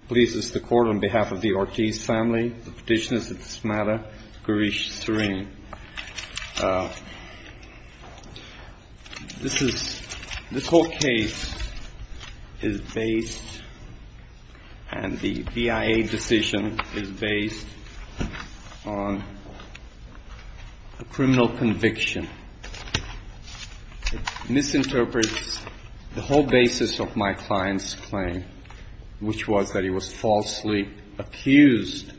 It pleases the court, on behalf of the Ortiz family, the petitioners of this matter, Gaurish Srini. This whole case is based, and the BIA decision is based, on a criminal conviction. It misinterprets the whole basis of my client's claim, which was that he was falsely accused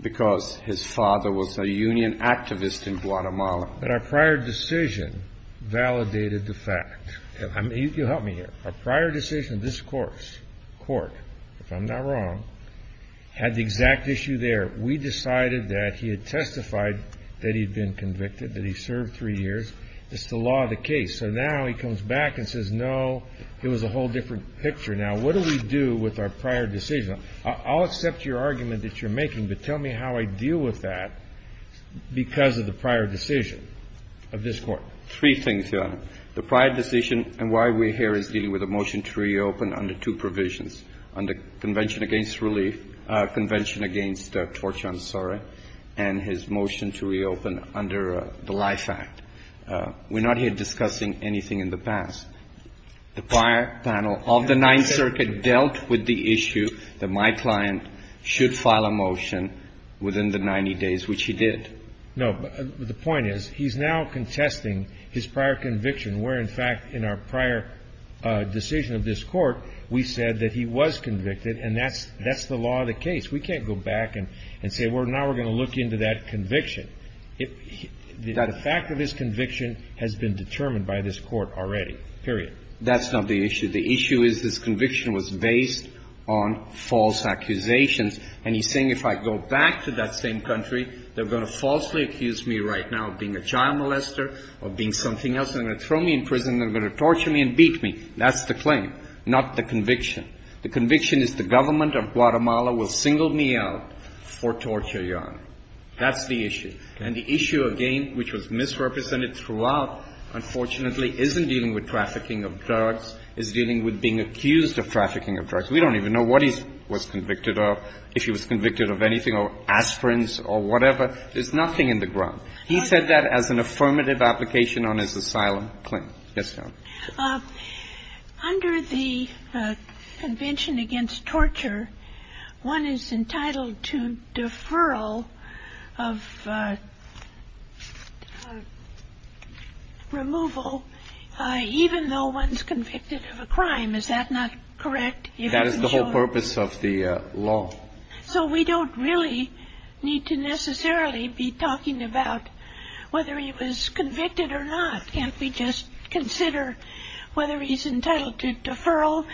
because his father was a union activist in Guatemala. But our prior decision validated the fact. You'll help me here. Our prior decision in this court, if I'm not wrong, had the exact issue there. We decided that he had testified that he'd been convicted, that he served three years. It's the law of the case. So now he comes back and says, no, it was a whole different picture. Now, what do we do with our prior decision? I'll accept your argument that you're making, but tell me how I deal with that because of the prior decision of this Court. Three things, Your Honor. The prior decision and why we're here is dealing with a motion to reopen under two provisions. Under Convention Against Relief, Convention Against Torture, I'm sorry, and his motion to reopen under the Life Act. We're not here discussing anything in the past. The prior panel of the Ninth Circuit dealt with the issue that my client should file a motion within the 90 days, which he did. No. The point is he's now contesting his prior conviction, where, in fact, in our prior decision of this Court, we said that he was convicted, and that's the law of the case. We can't go back and say, well, now we're going to look into that conviction. The fact of his conviction has been determined by this Court already, period. That's not the issue. The issue is this conviction was based on false accusations, and he's saying if I go back to that same country, they're going to falsely accuse me right now of being a child molester, of being something else. They're going to throw me in prison. They're going to torture me and beat me. That's the claim, not the conviction. The conviction is the government of Guatemala will single me out for torture, Your Honor. That's the issue. And the issue, again, which was misrepresented throughout, unfortunately, isn't dealing with trafficking of drugs. It's dealing with being accused of trafficking of drugs. We don't even know what he was convicted of, if he was convicted of anything, or aspirins or whatever. There's nothing in the ground. He said that as an affirmative application on his asylum claim. Yes, Your Honor. Under the Convention Against Torture, one is entitled to deferral of removal even though one's convicted of a crime. Is that not correct? That is the whole purpose of the law. So we don't really need to necessarily be talking about whether he was convicted or not. Can't we just consider whether he's entitled to deferral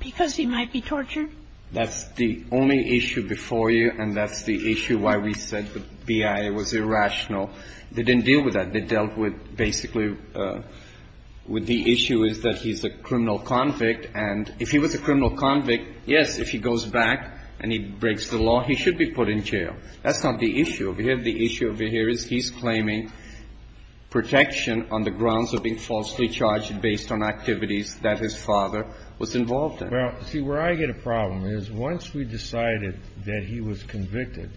because he might be tortured? That's the only issue before you, and that's the issue why we said the BIA was irrational. They didn't deal with that. They dealt with basically with the issue is that he's a criminal convict. And if he was a criminal convict, yes, if he goes back and he breaks the law, he should be put in jail. That's not the issue. The issue over here is he's claiming protection on the grounds of being falsely charged based on activities that his father was involved in. Well, see, where I get a problem is once we decided that he was convicted,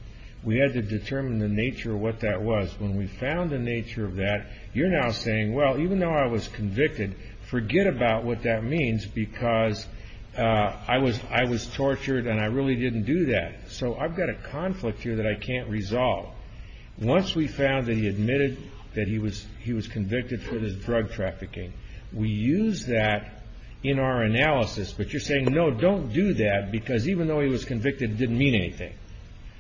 we had to determine the nature of what that was. When we found the nature of that, you're now saying, well, even though I was convicted, forget about what that means because I was tortured and I really didn't do that. So I've got a conflict here that I can't resolve. Once we found that he admitted that he was convicted for his drug trafficking, we use that in our analysis. But you're saying, no, don't do that because even though he was convicted, it didn't mean anything.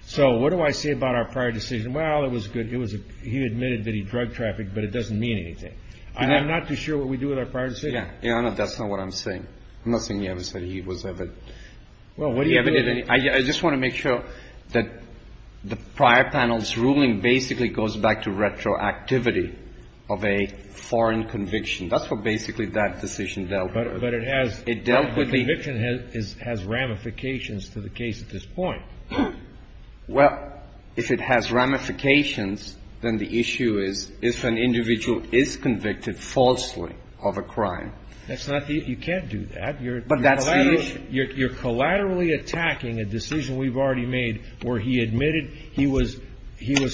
So what do I say about our prior decision? Well, it was good. He admitted that he drug trafficked, but it doesn't mean anything. I'm not too sure what we do with our prior decision. Yeah, that's not what I'm saying. I'm not saying he ever said he was ever. Well, what do you have in it? I just want to make sure that the prior panel's ruling basically goes back to retroactivity of a foreign conviction. That's what basically that decision dealt with. But it has. It dealt with the. Conviction has ramifications to the case at this point. Well, if it has ramifications, then the issue is if an individual is convicted falsely of a crime. That's not the. You can't do that. But that's the issue. You're collaterally attacking a decision we've already made where he admitted he was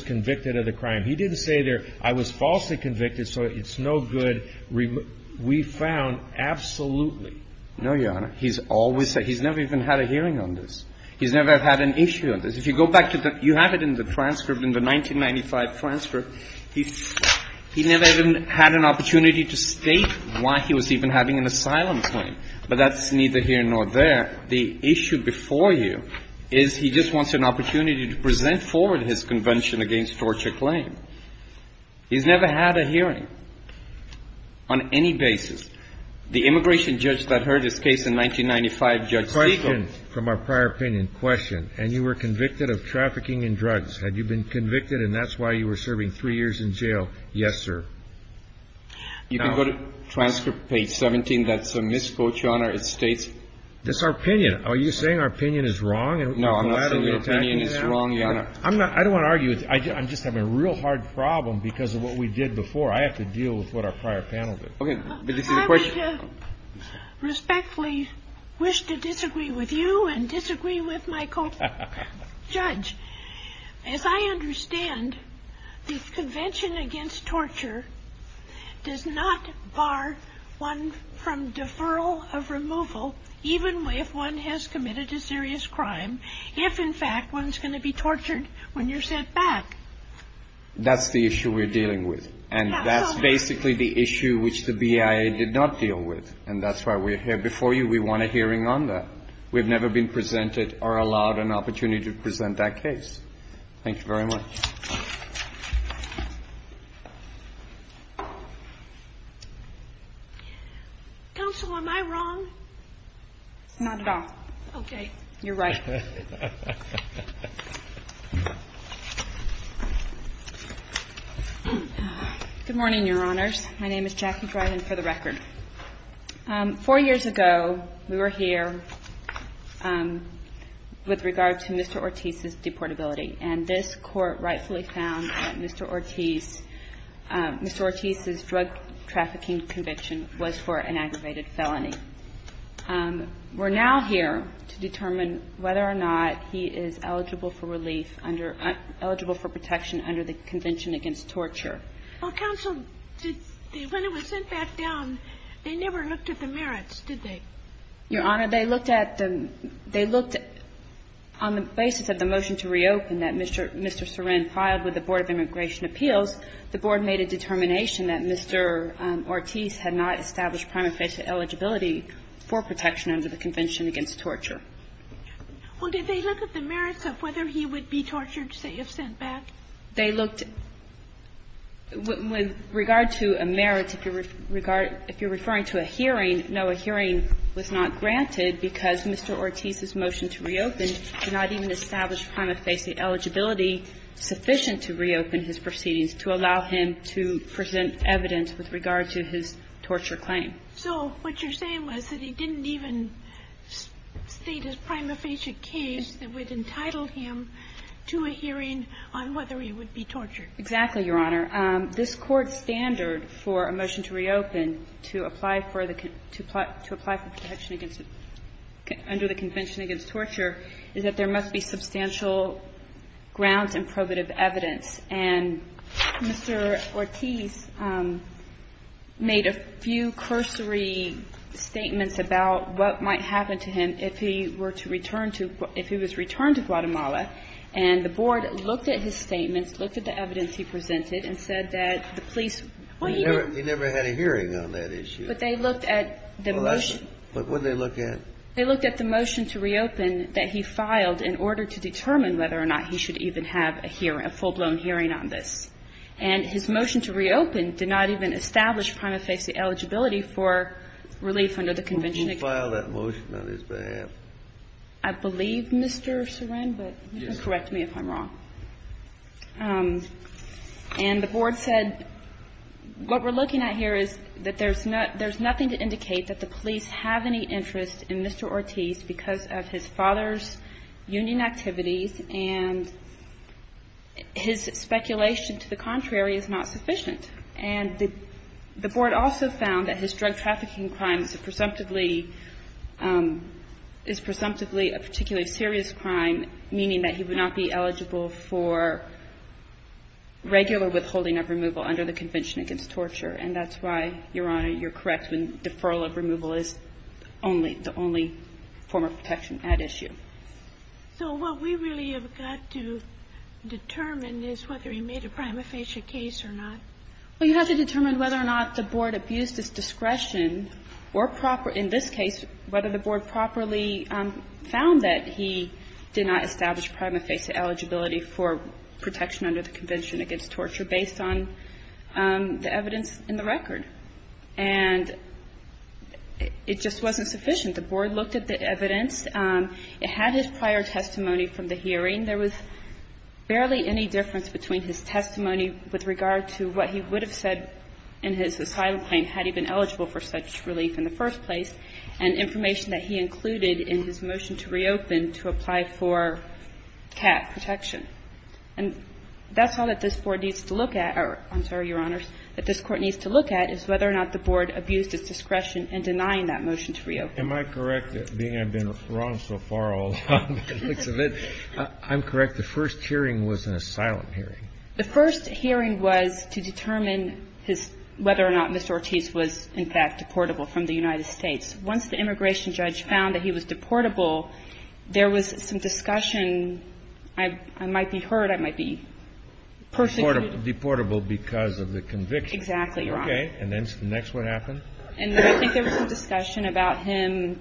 convicted of the crime. He didn't say there, I was falsely convicted, so it's no good. We found absolutely. No, Your Honor. He's always said he's never even had a hearing on this. He's never had an issue on this. If you go back to the. You have it in the transcript, in the 1995 transcript. He never even had an opportunity to state why he was even having an asylum claim. But that's neither here nor there. The issue before you is he just wants an opportunity to present forward his convention against torture claim. He's never had a hearing on any basis. The immigration judge that heard his case in 1995, Judge Segal. Question from our prior opinion. Question. And you were convicted of trafficking in drugs. Had you been convicted, and that's why you were serving three years in jail? Yes, sir. You can go to transcript page 17. That's a misquote, Your Honor. It states. That's our opinion. Are you saying our opinion is wrong? No, I'm not saying your opinion is wrong, Your Honor. I'm not. I don't want to argue with you. I'm just having a real hard problem because of what we did before. I have to deal with what our prior panel did. Okay. But this is a question. I would respectfully wish to disagree with you and disagree with my co-judge. As I understand, the convention against torture does not bar one from deferral of removal, even if one has committed a serious crime, if, in fact, one's going to be tortured when you're sent back. That's the issue we're dealing with. And that's basically the issue which the BIA did not deal with. And that's why we're here before you. We want a hearing on that. We've never been presented or allowed an opportunity to present that case. Thank you very much. Counsel, am I wrong? Not at all. Okay. You're right. Good morning, Your Honors. My name is Jackie Dryden, for the record. Four years ago, we were here with regard to Mr. Ortiz's deportability. And this Court rightfully found that Mr. Ortiz's drug trafficking conviction was for an aggravated felony. We're now here to determine whether or not he is eligible for relief, eligible for protection under the Convention Against Torture. Well, counsel, when he was sent back down, they never looked at the merits, did they? Your Honor, they looked at the – they looked on the basis of the motion to reopen that Mr. Sorin filed with the Board of Immigration Appeals. The Board made a determination that Mr. Ortiz had not established primary face eligibility for protection under the Convention Against Torture. Well, did they look at the merits of whether he would be tortured, say, if sent back? They looked – with regard to a merit, if you're – if you're referring to a hearing, no, a hearing was not granted because Mr. Ortiz's motion to reopen did not even establish prima facie eligibility sufficient to reopen his proceedings to allow him to present evidence with regard to his torture claim. So what you're saying was that he didn't even state his prima facie case that would entitle him to a hearing on whether he would be tortured. Exactly, Your Honor. This Court's standard for a motion to reopen to apply for the – to apply for protection against – under the Convention Against Torture is that there must be substantial grounds and probative evidence, and Mr. Ortiz made a few cursory statements about what might happen to him if he were to return to – if he was returned to Guatemala, and the board looked at his statements, looked at the evidence he presented, and said that the police were even – He never had a hearing on that issue. But they looked at the motion. Well, that's – but what did they look at? They looked at the motion to reopen that he filed in order to determine whether or not he should even have a hearing, a full-blown hearing on this. And his motion to reopen did not even establish prima facie eligibility for relief under the Convention Against Torture. Who filed that motion on his behalf? I believe Mr. Sorin, but you can correct me if I'm wrong. And the board said what we're looking at here is that there's not – there's nothing to indicate that the police have any interest in Mr. Ortiz because of his father's union activities and his speculation to the contrary is not sufficient. And the board also found that his drug trafficking crimes presumptively – is presumptively a particularly serious crime, meaning that he would not be eligible for regular withholding of removal under the Convention Against Torture. And that's why, Your Honor, you're correct when deferral of removal is only – the only form of protection at issue. So what we really have got to determine is whether he made a prima facie case or not. Well, you have to determine whether or not the board abused his discretion or proper – in this case, whether the board properly found that he did not establish prima facie eligibility for protection under the Convention Against Torture based on the evidence in the record. And it just wasn't sufficient. The board looked at the evidence. It had his prior testimony from the hearing. There was barely any difference between his testimony with regard to what he would have said in his asylum claim had he been eligible for such relief in the first place and information that he included in his motion to reopen to apply for cat protection. And that's all that this board needs to look at – or I'm sorry, Your Honors, that this Court needs to look at is whether or not the board abused its discretion in denying that motion to reopen. Am I correct, being I've been wrong so far all along? I'm correct. The first hearing was an asylum hearing. The first hearing was to determine his – whether or not Mr. Ortiz was, in fact, deportable from the United States. Once the immigration judge found that he was deportable, there was some discussion – I might be hurt, I might be persecuted. Deportable because of the conviction. Exactly, Your Honor. Okay. And then next what happened? And I think there was some discussion about him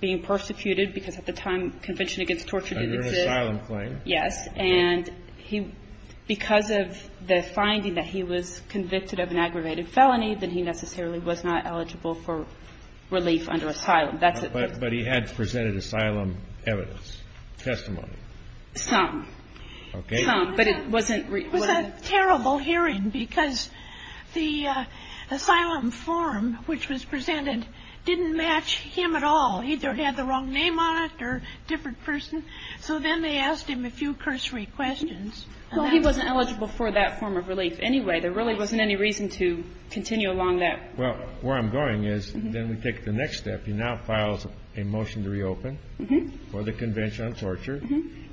being persecuted because at the time Convention Against Torture didn't exist. Under an asylum claim. Yes. And he – because of the finding that he was convicted of an aggravated felony, that he necessarily was not eligible for relief under asylum. That's it. But he had presented asylum evidence, testimony. Some. Okay. Some. But it wasn't – It was a terrible hearing because the asylum form which was presented didn't match him at all. He either had the wrong name on it or a different person. So then they asked him a few cursory questions. Well, he wasn't eligible for that form of relief anyway. There really wasn't any reason to continue along that. Well, where I'm going is then we take the next step. He now files a motion to reopen for the Convention on Torture.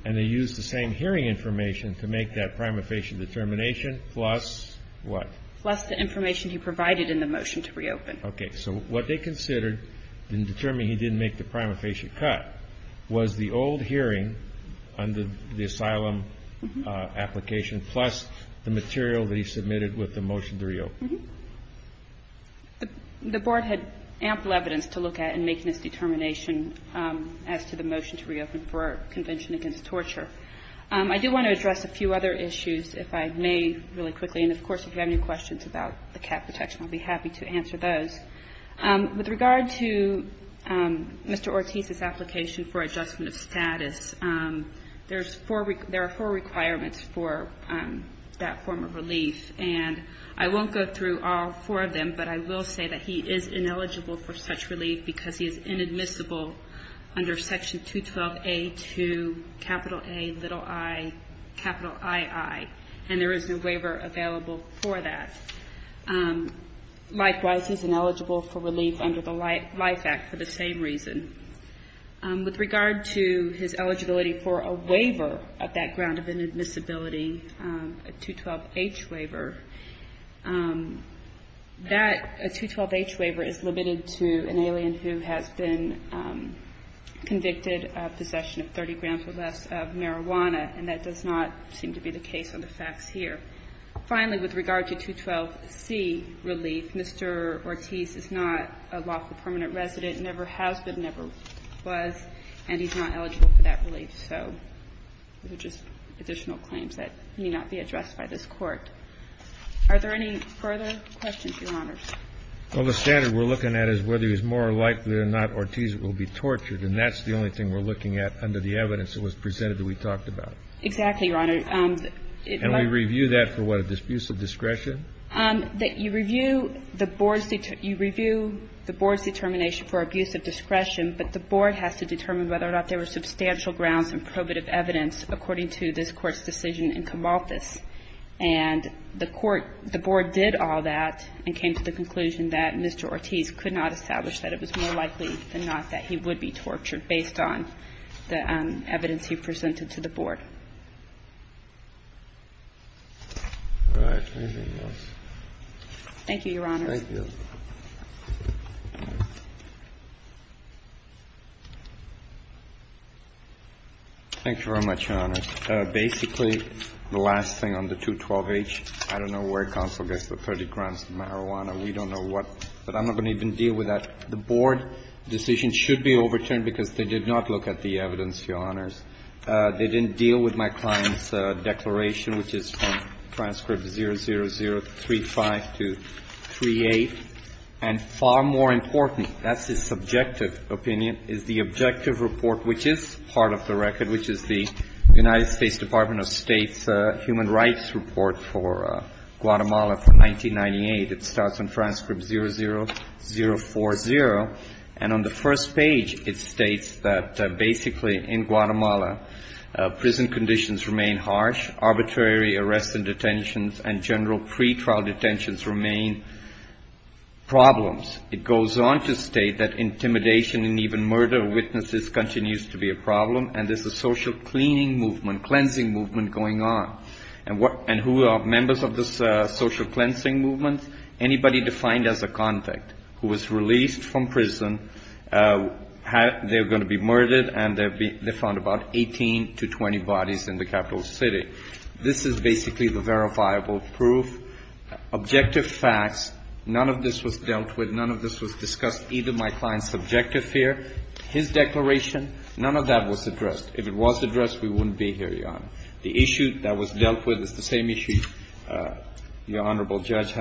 And they used the same hearing information to make that prima facie determination plus what? Plus the information he provided in the motion to reopen. Okay. So what they considered in determining he didn't make the prima facie cut was the old hearing under the asylum application plus the material that he submitted with the motion to reopen. The Board had ample evidence to look at in making this determination as to the motion to reopen for Convention against Torture. I do want to address a few other issues, if I may, really quickly. And, of course, if you have any questions about the cap protection, I'll be happy to answer those. With regard to Mr. Ortiz's application for adjustment of status, there's four requirements for that form of relief. And I won't go through all four of them, but I will say that he is ineligible for such relief because he is inadmissible under Section 212A to capital A, little I, capital II. And there is no waiver available for that. Likewise, he's ineligible for relief under the Life Act for the same reason. With regard to his eligibility for a waiver of that ground of inadmissibility, a 212H waiver, that, a 212H waiver is limited to an alien who has been convicted of possession of 30 grams or less of marijuana, and that does not seem to be the case on the facts here. Finally, with regard to 212C relief, Mr. Ortiz is not a lawful permanent resident, never has been, never was, and he's not eligible for that relief. So those are just additional claims that may not be addressed by this Court. Are there any further questions, Your Honors? Well, the standard we're looking at is whether he's more likely than not Ortiz will be tortured, and that's the only thing we're looking at under the evidence that was presented that we talked about. Exactly, Your Honor. And we review that for what, abuse of discretion? That you review the Board's determination for abuse of discretion, but the Board has to determine whether or not there were substantial grounds and probative evidence according to this Court's decision in Camalthus. And the Court, the Board did all that and came to the conclusion that Mr. Ortiz could not establish that it was more likely than not that he would be tortured based on the evidence he presented to the Board. All right. Anything else? Thank you, Your Honor. Thank you. Thank you very much, Your Honor. Basically, the last thing on the 212H, I don't know where counsel gets the credit grounds for marijuana. We don't know what, but I'm not going to even deal with that. The Board decision should be overturned because they did not look at the evidence, Your Honors. They didn't deal with my client's declaration, which is from transcript 00035238. And far more important, that's the subjective opinion, is the objective report, which is part of the record, which is the United States Department of State's Human Rights Report for Guatemala from 1998. It starts on transcript 00040. And on the first page, it states that basically in Guatemala, prison conditions remain harsh, arbitrary arrests and detentions, and general pretrial detentions remain problems. It goes on to state that intimidation and even murder of witnesses continues to be a problem, and there's a social cleaning movement, cleansing movement going on. And who are members of this social cleansing movement? Anybody defined as a contact who was released from prison, they're going to be murdered, and they found about 18 to 20 bodies in the capital city. This is basically the verifiable proof, objective facts. None of this was dealt with. None of this was discussed, either my client's objective here, his declaration. None of that was addressed. The issue that was dealt with is the same issue, Your Honorable Judge,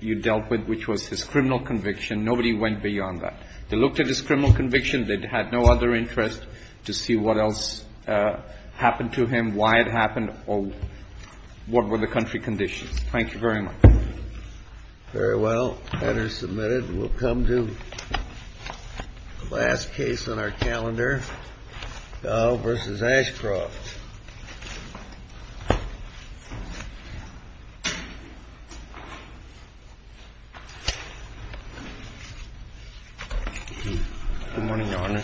you dealt with, which was his criminal conviction. Nobody went beyond that. They looked at his criminal conviction. They had no other interest to see what else happened to him, why it happened, or what were the country conditions. Thank you very much. Very well. That is submitted. We'll come to the last case on our calendar, Dahl v. Ashcroft. Good morning, Your Honor.